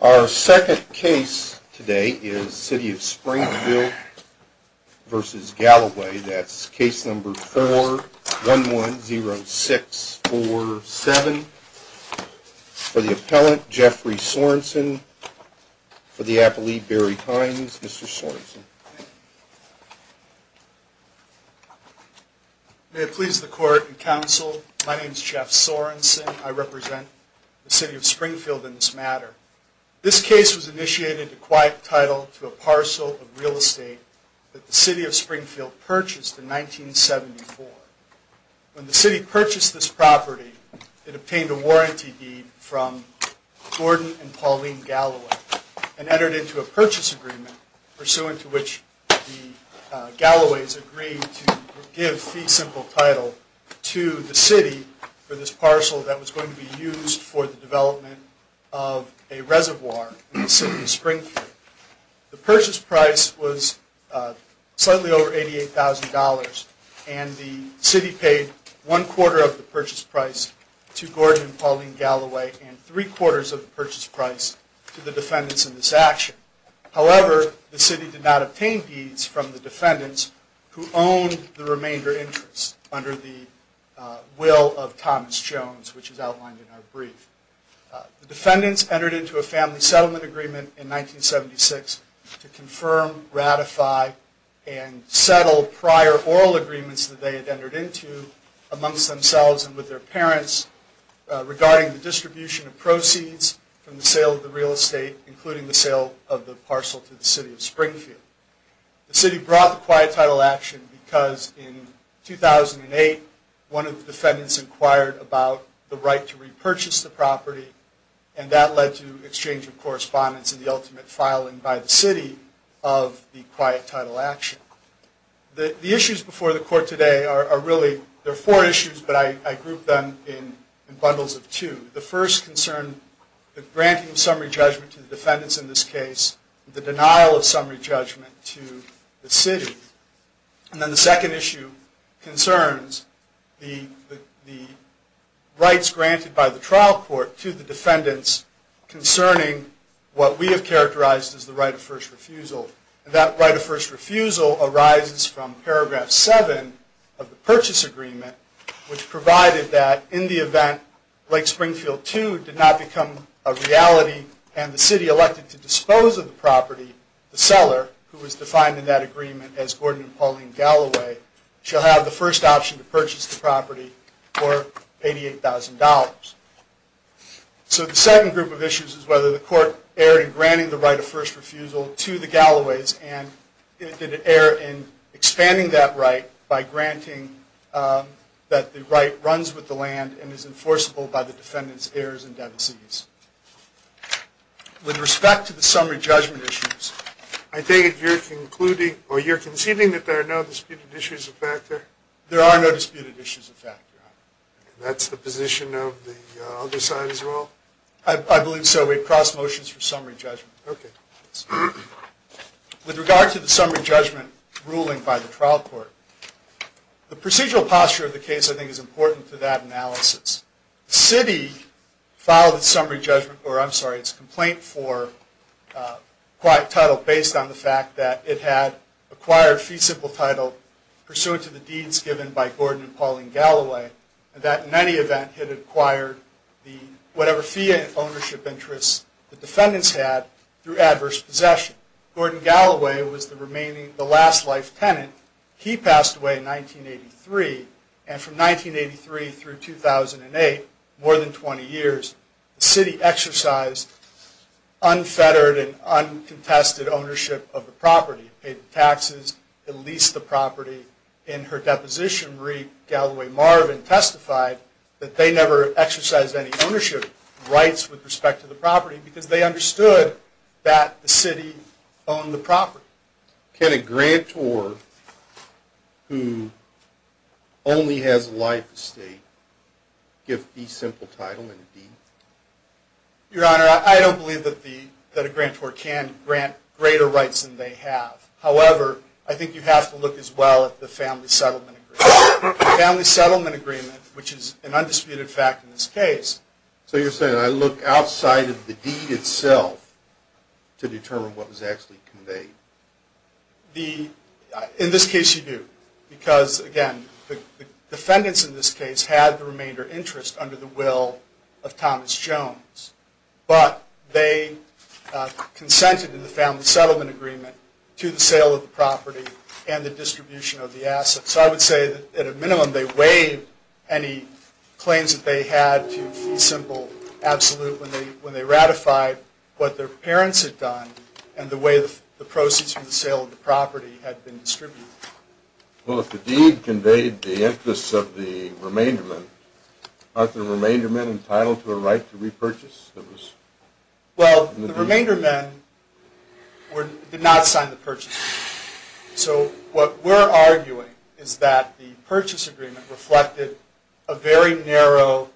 Our second case today is City of Springfield v. Galloway. That's case number 4110647. For the appellant, Jeffrey Sorensen. For the appellee, Barry Hynes. Mr. Sorensen. May it please the court and counsel, my name is Jeff Sorensen. I represent the City of This case was initiated to quiet title to a parcel of real estate that the City of Springfield purchased in 1974. When the City purchased this property, it obtained a warranty deed from Gordon and Pauline Galloway and entered into a purchase agreement pursuant to which the Galloways agreed to give fee simple title to the City for this parcel that was going to be used for the development of a reservoir in the City of Springfield. The purchase price was slightly over $88,000 and the City paid one quarter of the purchase price to Gordon and Pauline Galloway and three quarters of the purchase price to the defendants in this action. However, the City did not obtain deeds from the defendants who owned the remainder interest under the will of Thomas Jones, which is outlined in our brief. The defendants entered into a family settlement agreement in 1976 to confirm, ratify, and settle prior oral agreements that they had entered into amongst themselves and with their parents regarding the distribution of proceeds from the sale of the real estate, including the sale of the parcel to the City of Springfield. The City brought the quiet title action because in 2008, one of the defendants inquired about the right to repurchase the property and that led to exchange of correspondence and the ultimate filing by the City of the quiet title action. The issues before the Court today are really, there are four issues, but I grouped them in bundles of two. The first concerned the granting of summary judgment to the defendants in this case, the denial of summary judgment to the City. And then the second issue concerns the rights granted by the trial court to the defendants concerning what we have characterized as the right of first refusal. That right of first refusal arises from paragraph seven of the purchase agreement, which provided that in the event Lake Springfield 2 did not become a reality and the City elected to dispose of the property, the seller, who was defined in that agreement as Gordon and Pauline Galloway, shall have the first option to purchase the property for $88,000. So the second group of issues is whether the Court erred in granting the right of first refusal to the Galloways and did it err in expanding that right by $88,000. With respect to the summary judgment issues, I think you're concluding or you're conceding that there are no disputed issues of factor? There are no disputed issues of factor. And that's the position of the other side as well? I believe so. We've crossed motions for summary judgment. Okay. With regard to the summary judgment ruling by the trial court, the procedural posture of the case I think is important to that analysis. The summary judgment, or I'm sorry, it's a complaint for acquired title based on the fact that it had acquired fee simple title pursuant to the deeds given by Gordon and Pauline Galloway that in any event had acquired whatever fee ownership interests the defendants had through adverse possession. Gordon Galloway was the remaining, the last life tenant. He passed away in 1983. And from 1983 through 2008, more than 20 years, the city exercised unfettered and uncontested ownership of the property. It paid the taxes. It leased the property. In her deposition, Marie Galloway Marvin testified that they never exercised any ownership rights with respect to the property because they understood that the city owned the property. Can a grantor who only has a life estate give fee simple title in a deed? Your Honor, I don't believe that a grantor can grant greater rights than they have. However, I think you have to look as well at the family settlement agreement, which is an undisputed fact in this case. So you're saying I look outside of the deed itself to determine what was actually conveyed? In this case, you do. Because again, the defendants in this case had the remainder interest under the will of Thomas Jones. But they consented in the family settlement agreement to the sale of the property and the distribution of the assets. So I would say that at a minimum they waived any claims that they had to fee simple absolute when they ratified what their parents had done and the way the proceeds from the sale of the property had been distributed. Well, if the deed conveyed the interest of the remainder men, aren't the remainder men entitled to a right to repurchase? Well, the remainder men did not sign the purchase agreement. So what we're arguing is that the purchase agreement reflected a very narrow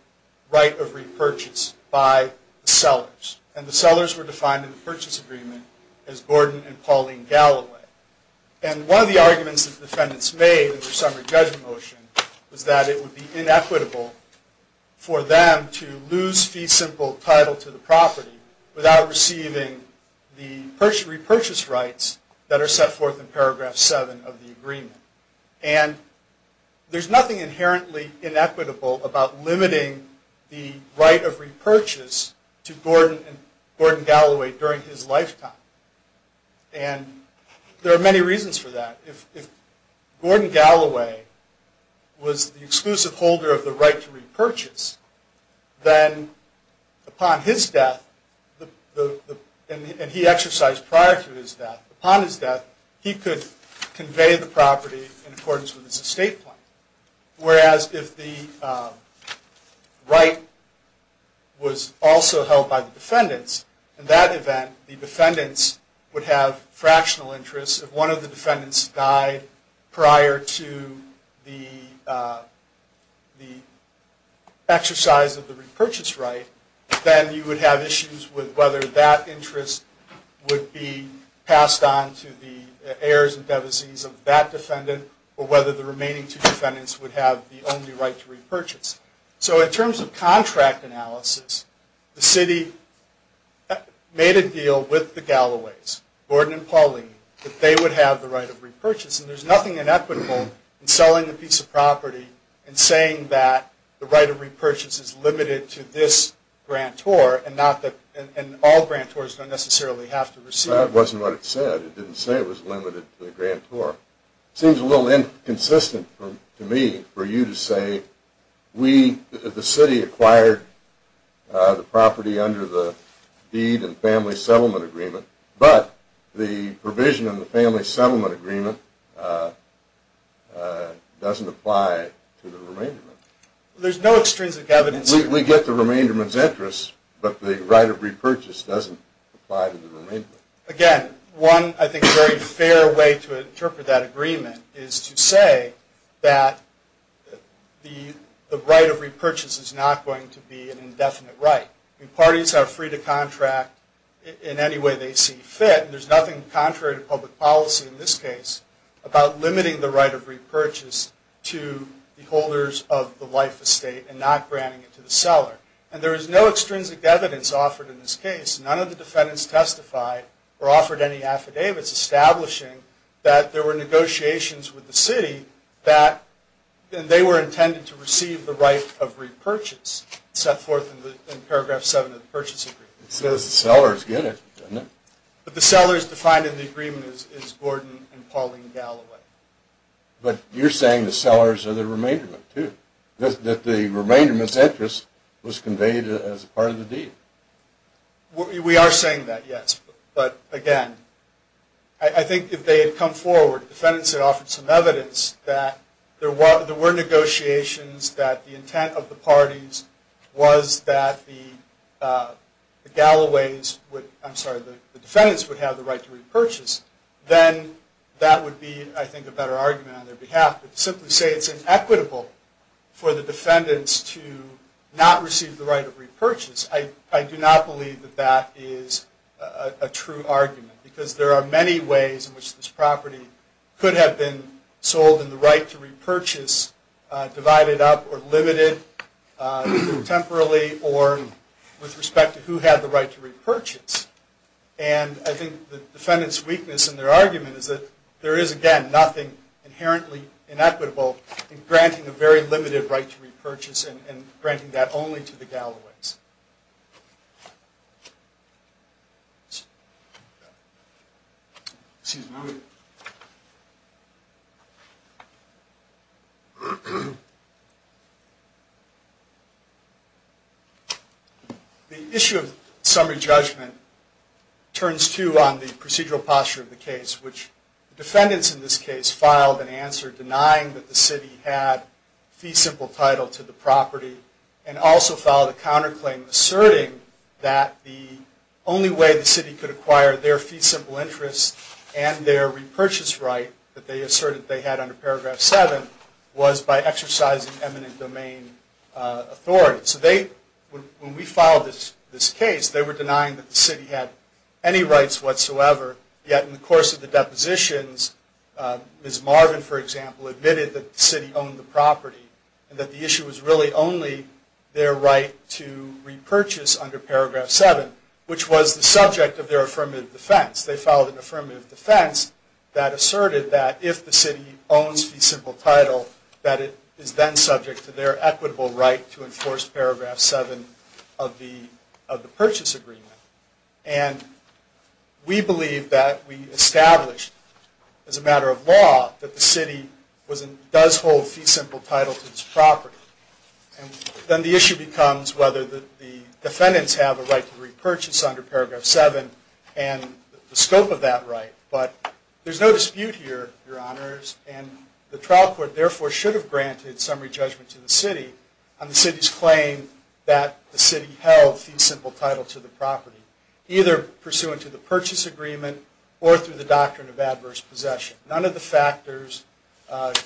right of repurchase by the sellers. And the sellers were defined in the purchase agreement as Gordon and Pauline Galloway. And one of the arguments that the defendants made in their summary judgment motion was that it would be inequitable for them to lose fee simple title to the property without receiving the purchase repurchase rights that are set forth in paragraph seven of the agreement. And there's nothing inherently inequitable about limiting the right of repurchase to Gordon and Gordon Galloway during his lifetime. And there are many reasons for that. If Gordon Galloway was the exclusive holder of the right to repurchase, then upon his death the property and he exercised prior to his death, upon his death he could convey the property in accordance with his estate plan. Whereas if the right was also held by the defendants, in that event the defendants would have fractional interest. If one of the defendants died prior to the exercise of the repurchase right, then you would have issues with whether that interest would be passed on to the heirs and devisees of that defendant or whether the remaining two defendants would have the only right to repurchase. So in terms of contract analysis, the city made a deal with the Galloways, Gordon and Pauline, that they would have the right of repurchase. And there's nothing inequitable in selling a piece of property and saying that the right of repurchase is limited to this grantor and all grantors don't necessarily have to receive it. That wasn't what it said. It didn't say it was limited to the grantor. It seems a little inconsistent to me for you to say we, the city, acquired the property under the deed and family settlement agreement, but the provision in the family settlement agreement doesn't apply to the remainder. There's no extrinsic evidence. We get the remainder's interest, but the right of repurchase doesn't apply to the remainder. Again, one, I think, very fair way to interpret that agreement is to say that the right of repurchase is not going to be an indefinite right. Parties are free to contract in any way they see fit. There's nothing contrary to public policy in this case about limiting the right of repurchase to the holders of the life estate and not granting it to the seller. And there is no extrinsic evidence offered in this case. None of the defendants testified or offered any affidavits establishing that there were negotiations with the city that they were intended to receive the right of repurchase set forth in paragraph 7 of the Purchase Agreement. It says the seller is good at it, doesn't it? But the sellers defined in the agreement is Gordon and Pauline Galloway. But you're saying the sellers are the remainderment, too. That the remainderment's interest was conveyed as part of the deed. We are saying that, yes. But again, I think if they had come forward, the defendants had offered some evidence that there were negotiations, that the intent of the parties was that the defendants would have the right to repurchase, then that would be, I think, a better argument on their behalf. But to simply say it's inequitable for the defendants to not receive the right of repurchase, I do not believe that that is a true argument. Because there are many ways in which this property could have been sold and the right to repurchase divided up or limited, either temporarily or with respect to who had the right to repurchase. And I think the defendants' weakness in their argument is that there is, again, nothing inherently inequitable in granting a very limited right to repurchase and granting that only to the Galloways. The issue of summary judgment turns to on the procedural posture of the case, which defendants in this case filed an answer denying that the city had fee simple title to the claim, asserting that the only way the city could acquire their fee simple interest and their repurchase right that they asserted they had under Paragraph 7 was by exercising eminent domain authority. So when we filed this case, they were denying that the city had any rights whatsoever, yet in the course of the depositions, Ms. Marvin, for example, admitted that the city owned the property and that the issue was really only their right to repurchase under Paragraph 7, which was the subject of their affirmative defense. They filed an affirmative defense that asserted that if the city owns fee simple title, that it is then subject to their equitable right to enforce Paragraph 7 of the purchase agreement. And we believe that we established as a matter of law that the city does hold fee simple title to its property. And then the issue becomes whether the defendants have a right to repurchase under Paragraph 7 and the scope of that right. But there's no dispute here, Your Honors, and the trial court therefore should have granted summary judgment to the city on the city's claim that the city held fee simple title to the property, either pursuant to the purchase agreement or through the doctrine of adverse possession. None of the factors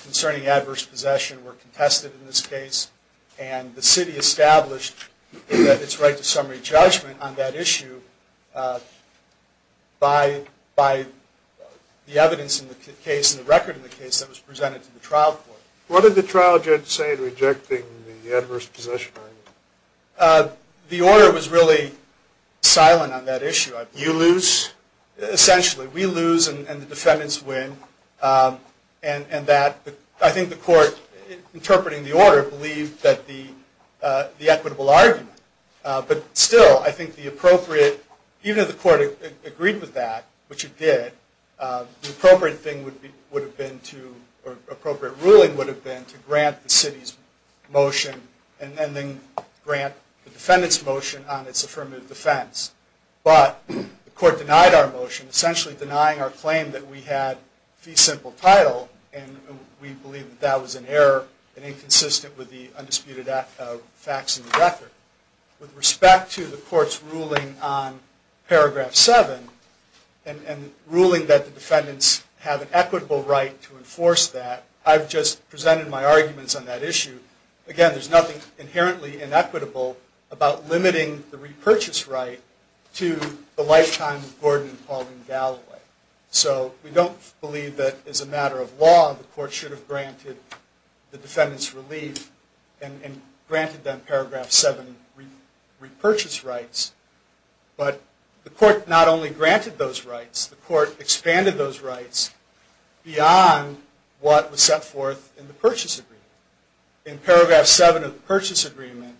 concerning adverse possession were contested in this case, and the city established that it's right to summary judgment on that issue by the evidence in the case and the record in the case that was presented to the trial court. What did the trial judge say in rejecting the adverse possession argument? The order was really silent on that issue. You lose? Essentially. We lose and the defendants win. And I think the court, interpreting the order, believed that the equitable argument, but still I think the appropriate, even if the court agreed with that, which it did, the appropriate thing would have been to, or appropriate ruling would have been to grant the city's motion and then grant the defendant's motion on its affirmative defense. But the court denied our motion, essentially denying our claim that we had fee simple title, and we believe that that was an error and inconsistent with the undisputed facts in the record. With respect to the court's ruling on paragraph seven, and ruling that the defendants have an equitable right to enforce that, I've just presented my arguments on that issue. Again, there's nothing inherently inequitable about limiting the repurchase right to the lifetime of Gordon and Pauline Galloway. So we don't believe that as a matter of law the court should have granted the defendants relief and granted them paragraph seven repurchase rights. But the court not only granted those rights, the court expanded those rights beyond what was set forth in the purchase agreement. In paragraph seven of the purchase agreement,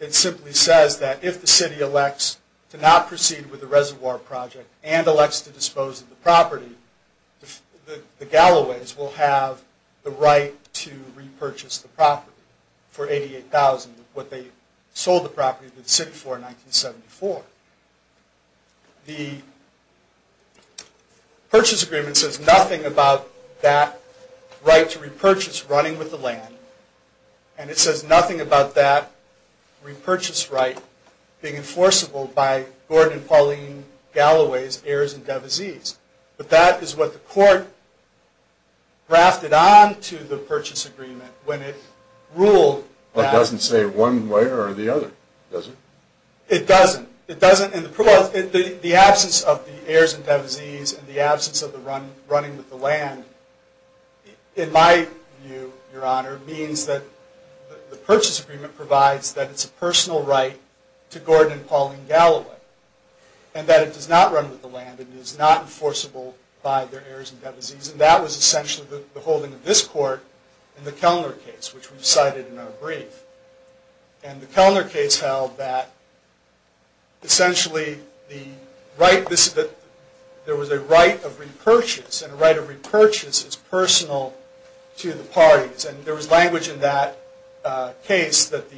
it simply says that if the city elects to not proceed with the reservoir project and elects to dispose of the property, the Galloways will have the right to repurchase the property for $88,000 of what they sold the property to the city for in 1974. The purchase agreement says nothing about that right to repurchase running with the land. And it says nothing about that repurchase right being enforceable by Gordon and Pauline Galloway's heirs and devisees. But that is what the court grafted onto the purchase agreement when it ruled that. It doesn't say one way or the other, does it? It doesn't. It doesn't. And the absence of the heirs and devisees and the absence of the running with the land, in my view, your honor, means that the purchase agreement provides that it's a personal right to Gordon and Pauline Galloway. And that it does not run with the land. It is not enforceable by their heirs and devisees. And that was essentially the holding of this court in the Kellner case, which we cited in our brief. And the Kellner case held that, essentially, there was a right of repurchase. And a right of repurchase is personal to the parties. And there was language in that case that the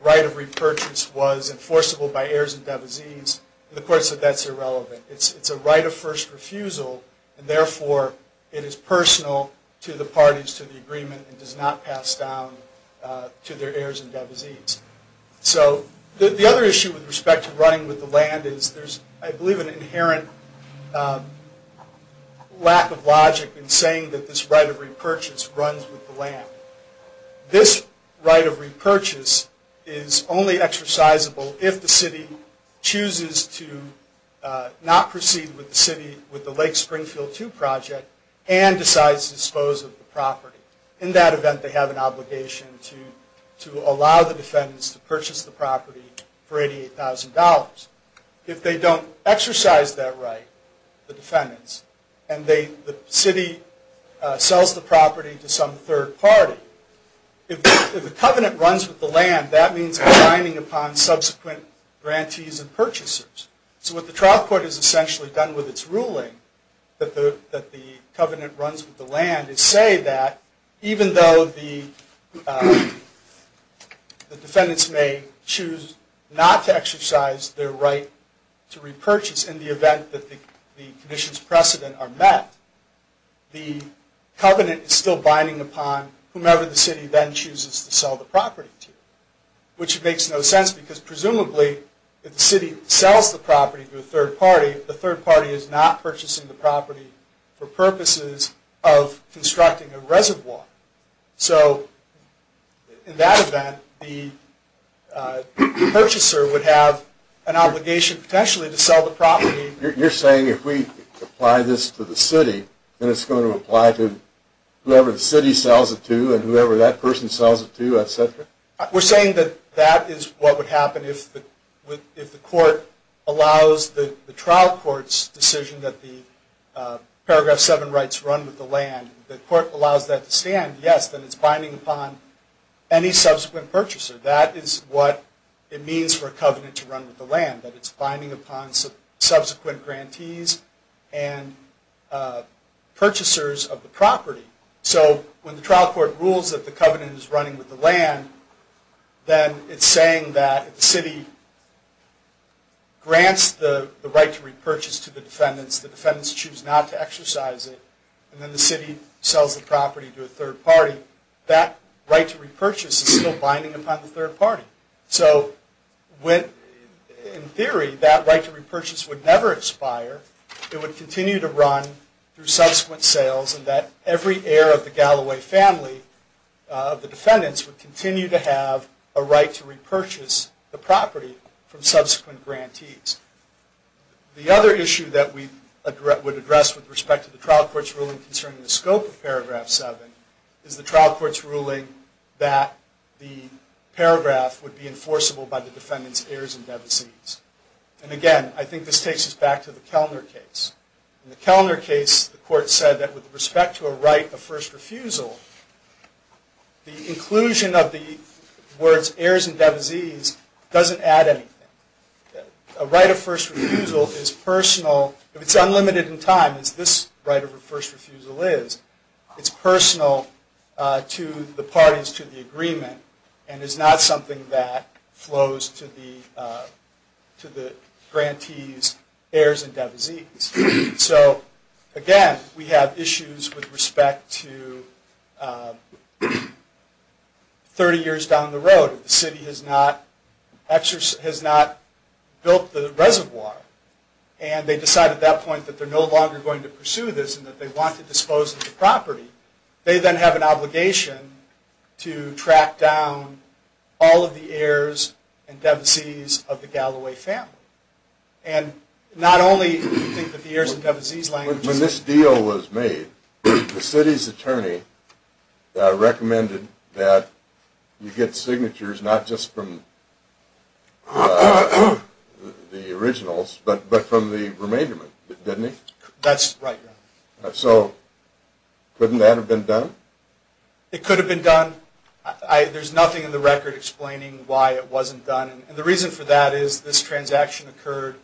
right of repurchase was enforceable by heirs and devisees. The court said that's irrelevant. It's a right of first refusal. And therefore, it is personal to the parties, to the agreement, and does not pass down to their heirs and devisees. So the other issue with respect to running with the land is there's, I believe, an inherent lack of logic in saying that this right of repurchase runs with the land. This right of repurchase is only exercisable if the city chooses to not proceed with the city, with the Lake Springfield 2 project, and decides to dispose of the property. In that event, they have an obligation to allow the defendants to purchase the property for $88,000. If they don't exercise that right, the defendants, and the city sells the property to some third party, if the covenant runs with the land, that means binding upon subsequent grantees and purchasers. So what the trial court has essentially done with its ruling, that the covenant runs with the land, is say that even though the defendants may choose not to exercise their right to repurchase in the event that the conditions of precedent are met, the covenant is still binding upon whomever the city then chooses to sell the property to. Which makes no sense because presumably, if the city sells the property to a third party, the third party is not purchasing the property for purposes of constructing a reservoir. So in that event, the purchaser would have an obligation potentially to sell the property. You're saying if we apply this to the city, then it's going to apply to whoever the city sells it to, and whoever that person sells it to, etc.? We're saying that that is what would happen if the court allows the trial court's decision that the paragraph 7 rights run with the land, if the court allows that to stand, yes, then it's binding upon any subsequent purchaser. That is what it means for a covenant to run with the land, that it's binding upon subsequent grantees and purchasers of the property. So when the trial court rules that the covenant is running with the land, then it's saying that if the city grants the right to repurchase to the defendants, the defendants choose not to exercise it, and then the city sells the property to a third party, that right to repurchase is still binding upon the third party. So in theory, that right to repurchase would never expire. It would continue to run through subsequent sales, and that every heir of the Galloway family of the defendants would continue to have a right to repurchase the property from subsequent grantees. The other issue that we would address with respect to the trial court's ruling concerning the scope of paragraph 7 is the trial court's ruling that the paragraph would be enforceable by the defendant's heirs and devisees. And again, I think this takes us back to the Kellner case. In the Kellner case, the court said that with respect to a right of first refusal, the inclusion of the words heirs and devisees doesn't add anything. A right of first refusal is personal, if it's unlimited in time, as this right of first refusal is, it's personal to the parties to the agreement, and is not something that flows to the grantees' heirs and devisees. So again, we have issues with respect to 30 years down the road, if the city has not built the reservoir, and they decide at that point that they're no longer going to pursue this and that they want to dispose of the property, they then have an obligation to track down all of the heirs and devisees of the Galloway family. And not only do you think that the heirs and devisees language is... When this deal was made, the city's attorney recommended that you get signatures not just from the originals, but from the remainder, didn't he? That's right. So couldn't that have been done? It could have been done. There's nothing in the record explaining why it wasn't done, and the reason for that is this transaction occurred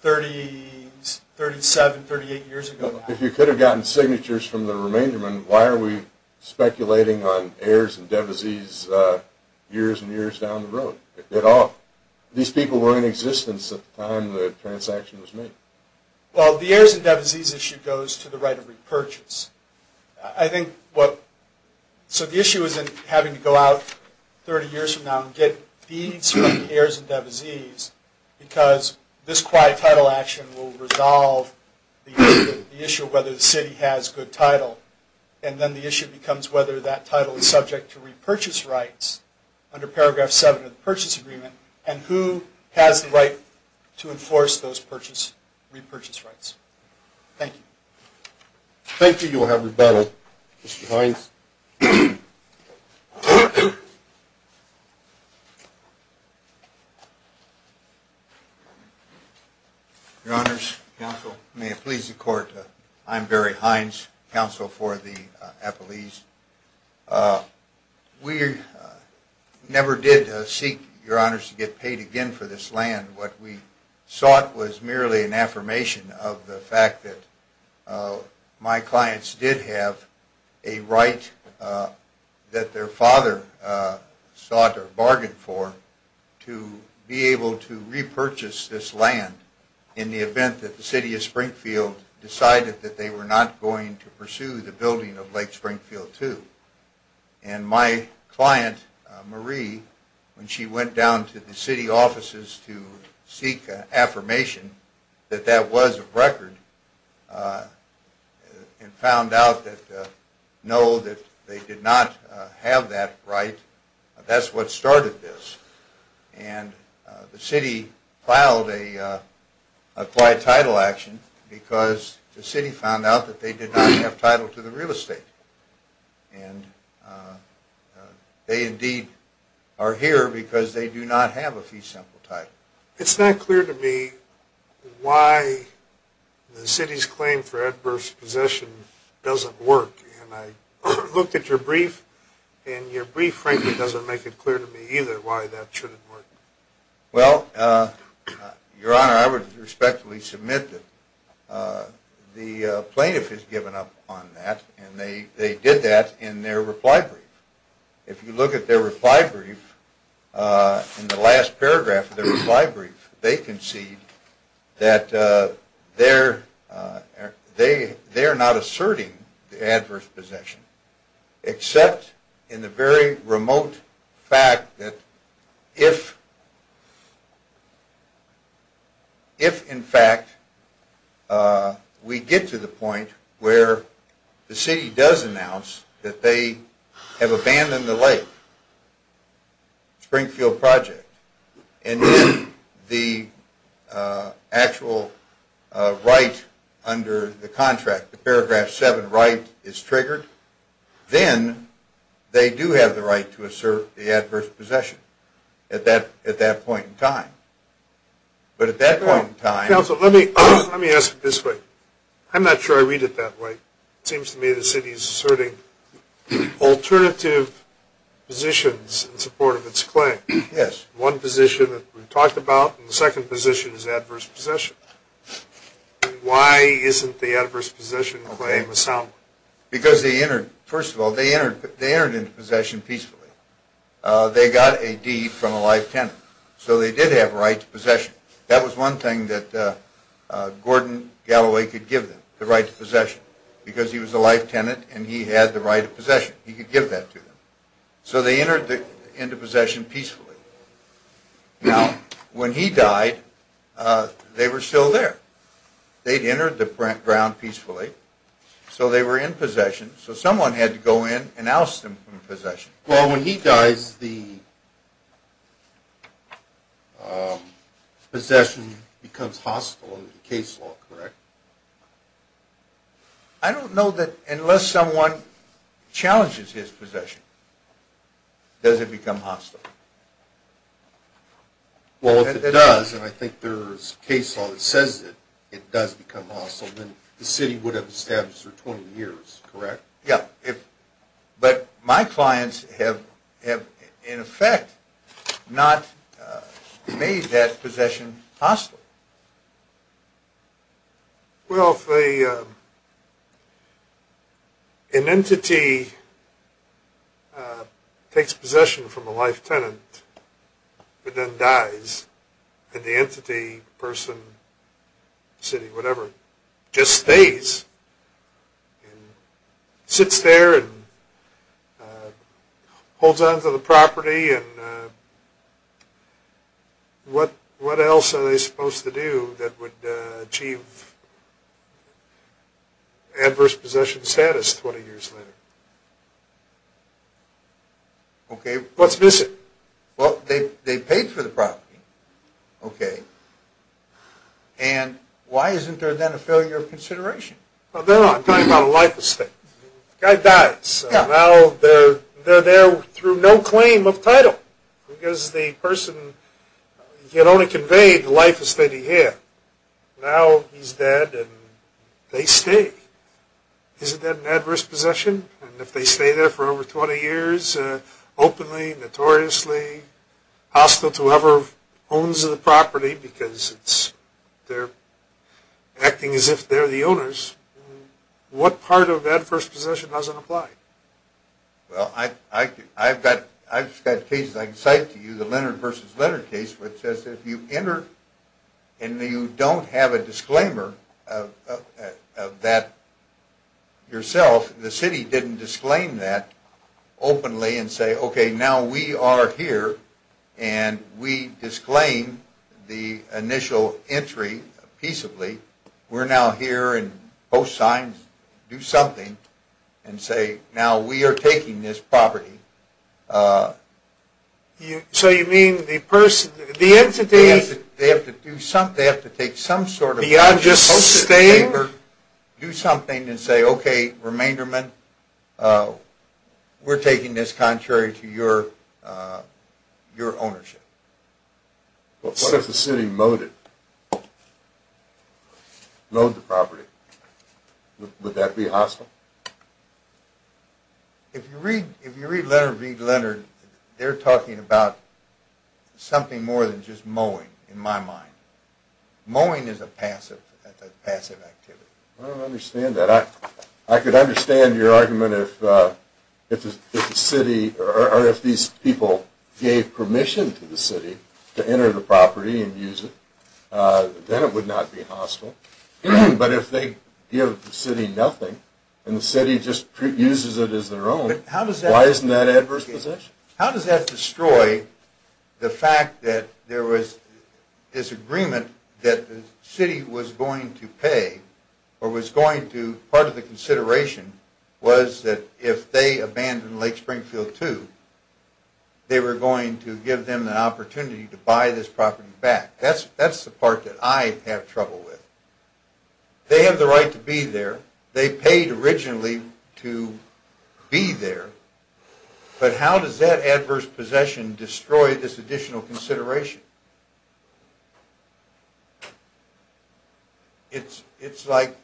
37, 38 years ago. If you could have gotten signatures from the remaindermen, why are we speculating on heirs and devisees years and years down the road, at all? These people were in existence at the time the transaction was made. Well, the heirs and devisees issue goes to the right of repurchase. I think what... So the issue isn't having to go out 30 years from now and get deeds from the heirs and devisees, because this quiet title action will resolve the issue of whether the city has good title. And then the issue becomes whether that title is subject to repurchase rights under paragraph 7 of the purchase agreement, and who has the right to enforce those repurchase rights. Thank you. Thank you. You'll have rebuttal. Mr. Hines. Your honors, counsel, may it please the court, I'm Barry Hines, counsel for the Appalese. We never did seek, your honors, to get paid again for this land. What we sought was merely an affirmation of the fact that my clients did have a right that their father sought or bargained for to be able to repurchase this land in the event that the city of Springfield decided that they were not going to pursue the building of Lake Springfield II. And my client, Marie, when she went down to the city offices to seek affirmation that that was a record and found out that no, that they did not have that right, that's what started this. And the city filed a quiet title action because the city found out that they did not have a fee sample title to the real estate. And they indeed are here because they do not have a fee sample title. It's not clear to me why the city's claim for adverse possession doesn't work. And I looked at your brief, and your brief frankly doesn't make it clear to me either why that shouldn't work. Well, Your Honor, I would respectfully submit that the plaintiff has given up on that, and they did that in their reply brief. If you look at their reply brief, in the last paragraph of their reply brief, they concede that they are not asserting the adverse possession, except in the very remote fact that if, in fact, we get to the point where the city does announce that they have abandoned the lake, Springfield project, and then the actual right under the contract, the paragraph 7 right, is triggered, then they do have the right to assert the adverse possession at that point in time. But at that point in time... Counsel, let me ask it this way. I'm not sure I read it that way. It seems to me the city is asserting alternative positions in support of its claim. Yes. One position that we've talked about, and the second position is adverse possession. Why isn't the adverse possession claim a sound one? Because they entered, first of all, they entered into possession peacefully. They got a deed from a live tenant, so they did have a right to possession. That was one thing that Gordon Galloway could give them, the right to possession, because he was a live tenant and he had the right to possession. He could give that to them. So they entered into possession peacefully. Now, when he died, they were still there. They'd entered the ground peacefully, so they were in possession. So someone had to go in and oust them from possession. Well, when he dies, the possession becomes hostile under the case law, correct? I don't know that unless someone challenges his possession, does it become hostile. Well, if it does, and I think there's a case law that says that it does become hostile, then the city would have established for 20 years, correct? Yeah. But my clients have, in effect, not made that possession hostile. Well, if an entity takes possession from a live tenant, but then dies, and the entity, person, city, whatever, just stays, sits there and holds on to the property, what else are they supposed to do that would achieve adverse possession status 20 years later? Okay. What's missing? Well, they paid for the property. Okay. And why isn't there then a failure of consideration? Well, then I'm talking about a life estate. The guy dies. Yeah. Now they're there through no claim of title, because the person had only conveyed the life estate he had. Now he's dead and they stay. Isn't that an adverse possession? And if they stay there for over 20 years openly, notoriously hostile to whoever owns the property, because they're acting as if they're the owners, what part of adverse possession doesn't apply? Well, I've got cases I can cite to you, the Leonard v. Leonard case, which says if you enter and you don't have a disclaimer of that yourself, the city didn't disclaim that openly and say, okay, now we are here, and we disclaim the initial entry peaceably. We're now here and post signs, do something, and say, now we are taking this property. So you mean the person, the entity? They have to take some sort of postage paper, do something, and say, okay, remainderman, we're taking this contrary to your ownership. What if the city mowed it, mowed the property? Would that be hostile? If you read Leonard v. Leonard, they're talking about something more than just mowing, in my mind. Mowing is a passive activity. I don't understand that. I could understand your argument if the city or if these people gave permission to the city to enter the property and use it, then it would not be hostile. But if they give the city nothing and the city just uses it as their own, why isn't that an adverse position? How does that destroy the fact that there was this agreement that the city was going to pay or was going to, part of the consideration was that if they abandoned Lake Springfield II, they were going to give them the opportunity to buy this property back. That's the part that I have trouble with. They have the right to be there. They paid originally to be there. But how does that adverse possession destroy this additional consideration? It's like...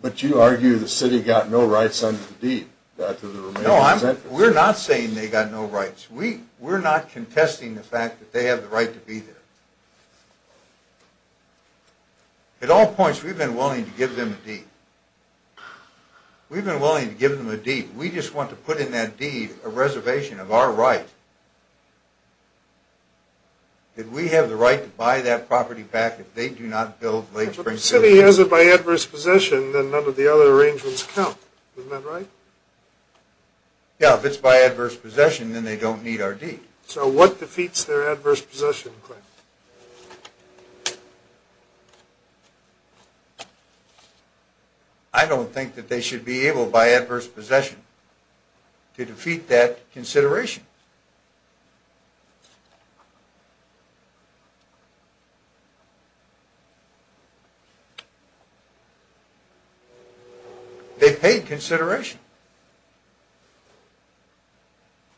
But you argue the city got no rights under the deed. No, we're not saying they got no rights. We're not contesting the fact that they have the right to be there. At all points, we've been willing to give them a deed. We've been willing to give them a deed. We just want to put in that deed a reservation of our right that we have the right to buy that property back if they do not build Lake Springfield II. But if the city has it by adverse possession, then none of the other arrangements count. Isn't that right? Yeah, if it's by adverse possession, then they don't need our deed. So what defeats their adverse possession claim? I don't think that they should be able, by adverse possession, to defeat that consideration. They paid consideration.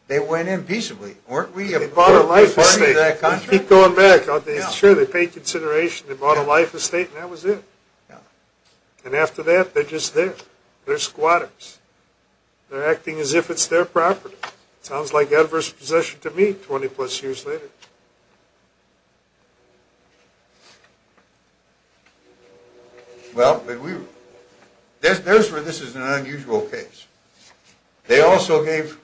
They went in peaceably. They bought a life estate. They keep going back. Sure, they paid consideration. They bought a life estate, and that was it. And after that, they're just there. They're squatters. They're acting as if it's their property. Sounds like evidence. They gave the adverse possession to me 20-plus years later. Well, there's where this is an unusual case. They also gave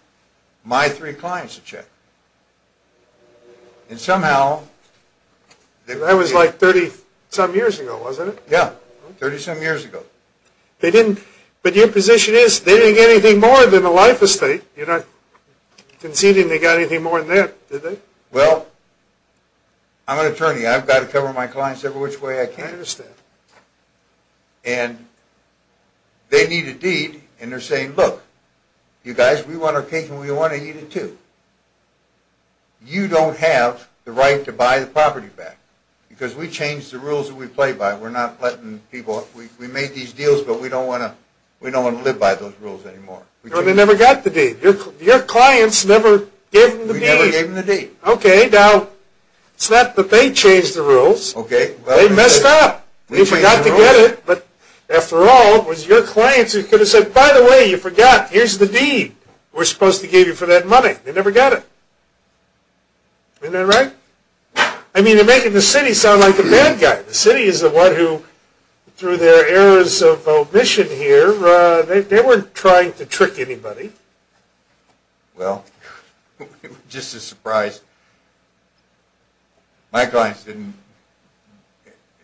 my three clients a check. And somehow... That was like 30-some years ago, wasn't it? Yeah, 30-some years ago. But your position is they didn't get anything more than a life estate. Conceding they got anything more than that, did they? Well, I'm an attorney. I've got to cover my clients every which way I can. I understand. And they need a deed, and they're saying, Look, you guys, we want our cake, and we want to eat it, too. You don't have the right to buy the property back, because we changed the rules that we play by. We're not letting people... We made these deals, but we don't want to live by those rules anymore. But they never got the deed. Your clients never gave them the deed. We never gave them the deed. Okay, now, it's not that they changed the rules. They messed up. You forgot to get it, but after all, it was your clients who could have said, By the way, you forgot. Here's the deed. We're supposed to give you for that money. They never got it. Isn't that right? I mean, they're making the city sound like a bad guy. The city is the one who, through their errors of omission here, They weren't trying to trick anybody. Well, we're just as surprised. My clients didn't...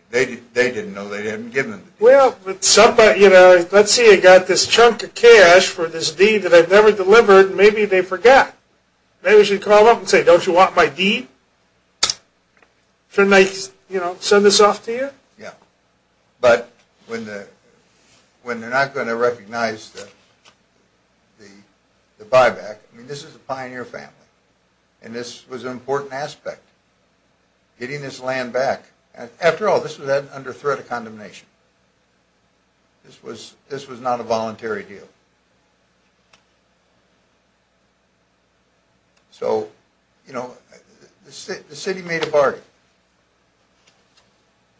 They didn't know. They didn't give them the deed. Well, but somebody... Let's say I got this chunk of cash for this deed that I've never delivered, and maybe they forgot. Maybe they should call up and say, Don't you want my deed? Shouldn't I send this off to you? Yeah. But when they're not going to recognize the buyback, I mean, this is a pioneer family, and this was an important aspect, getting this land back. After all, this was under threat of condemnation. This was not a voluntary deal. So, you know, the city made a bargain.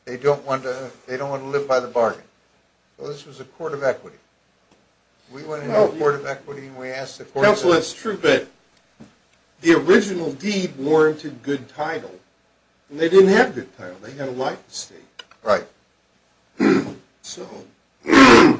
They don't want to live by the bargain. Well, this was a court of equity. We went into a court of equity, and we asked the court... Counsel, it's true that the original deed warranted good title, and they didn't have good title. They had a life estate. Right. So...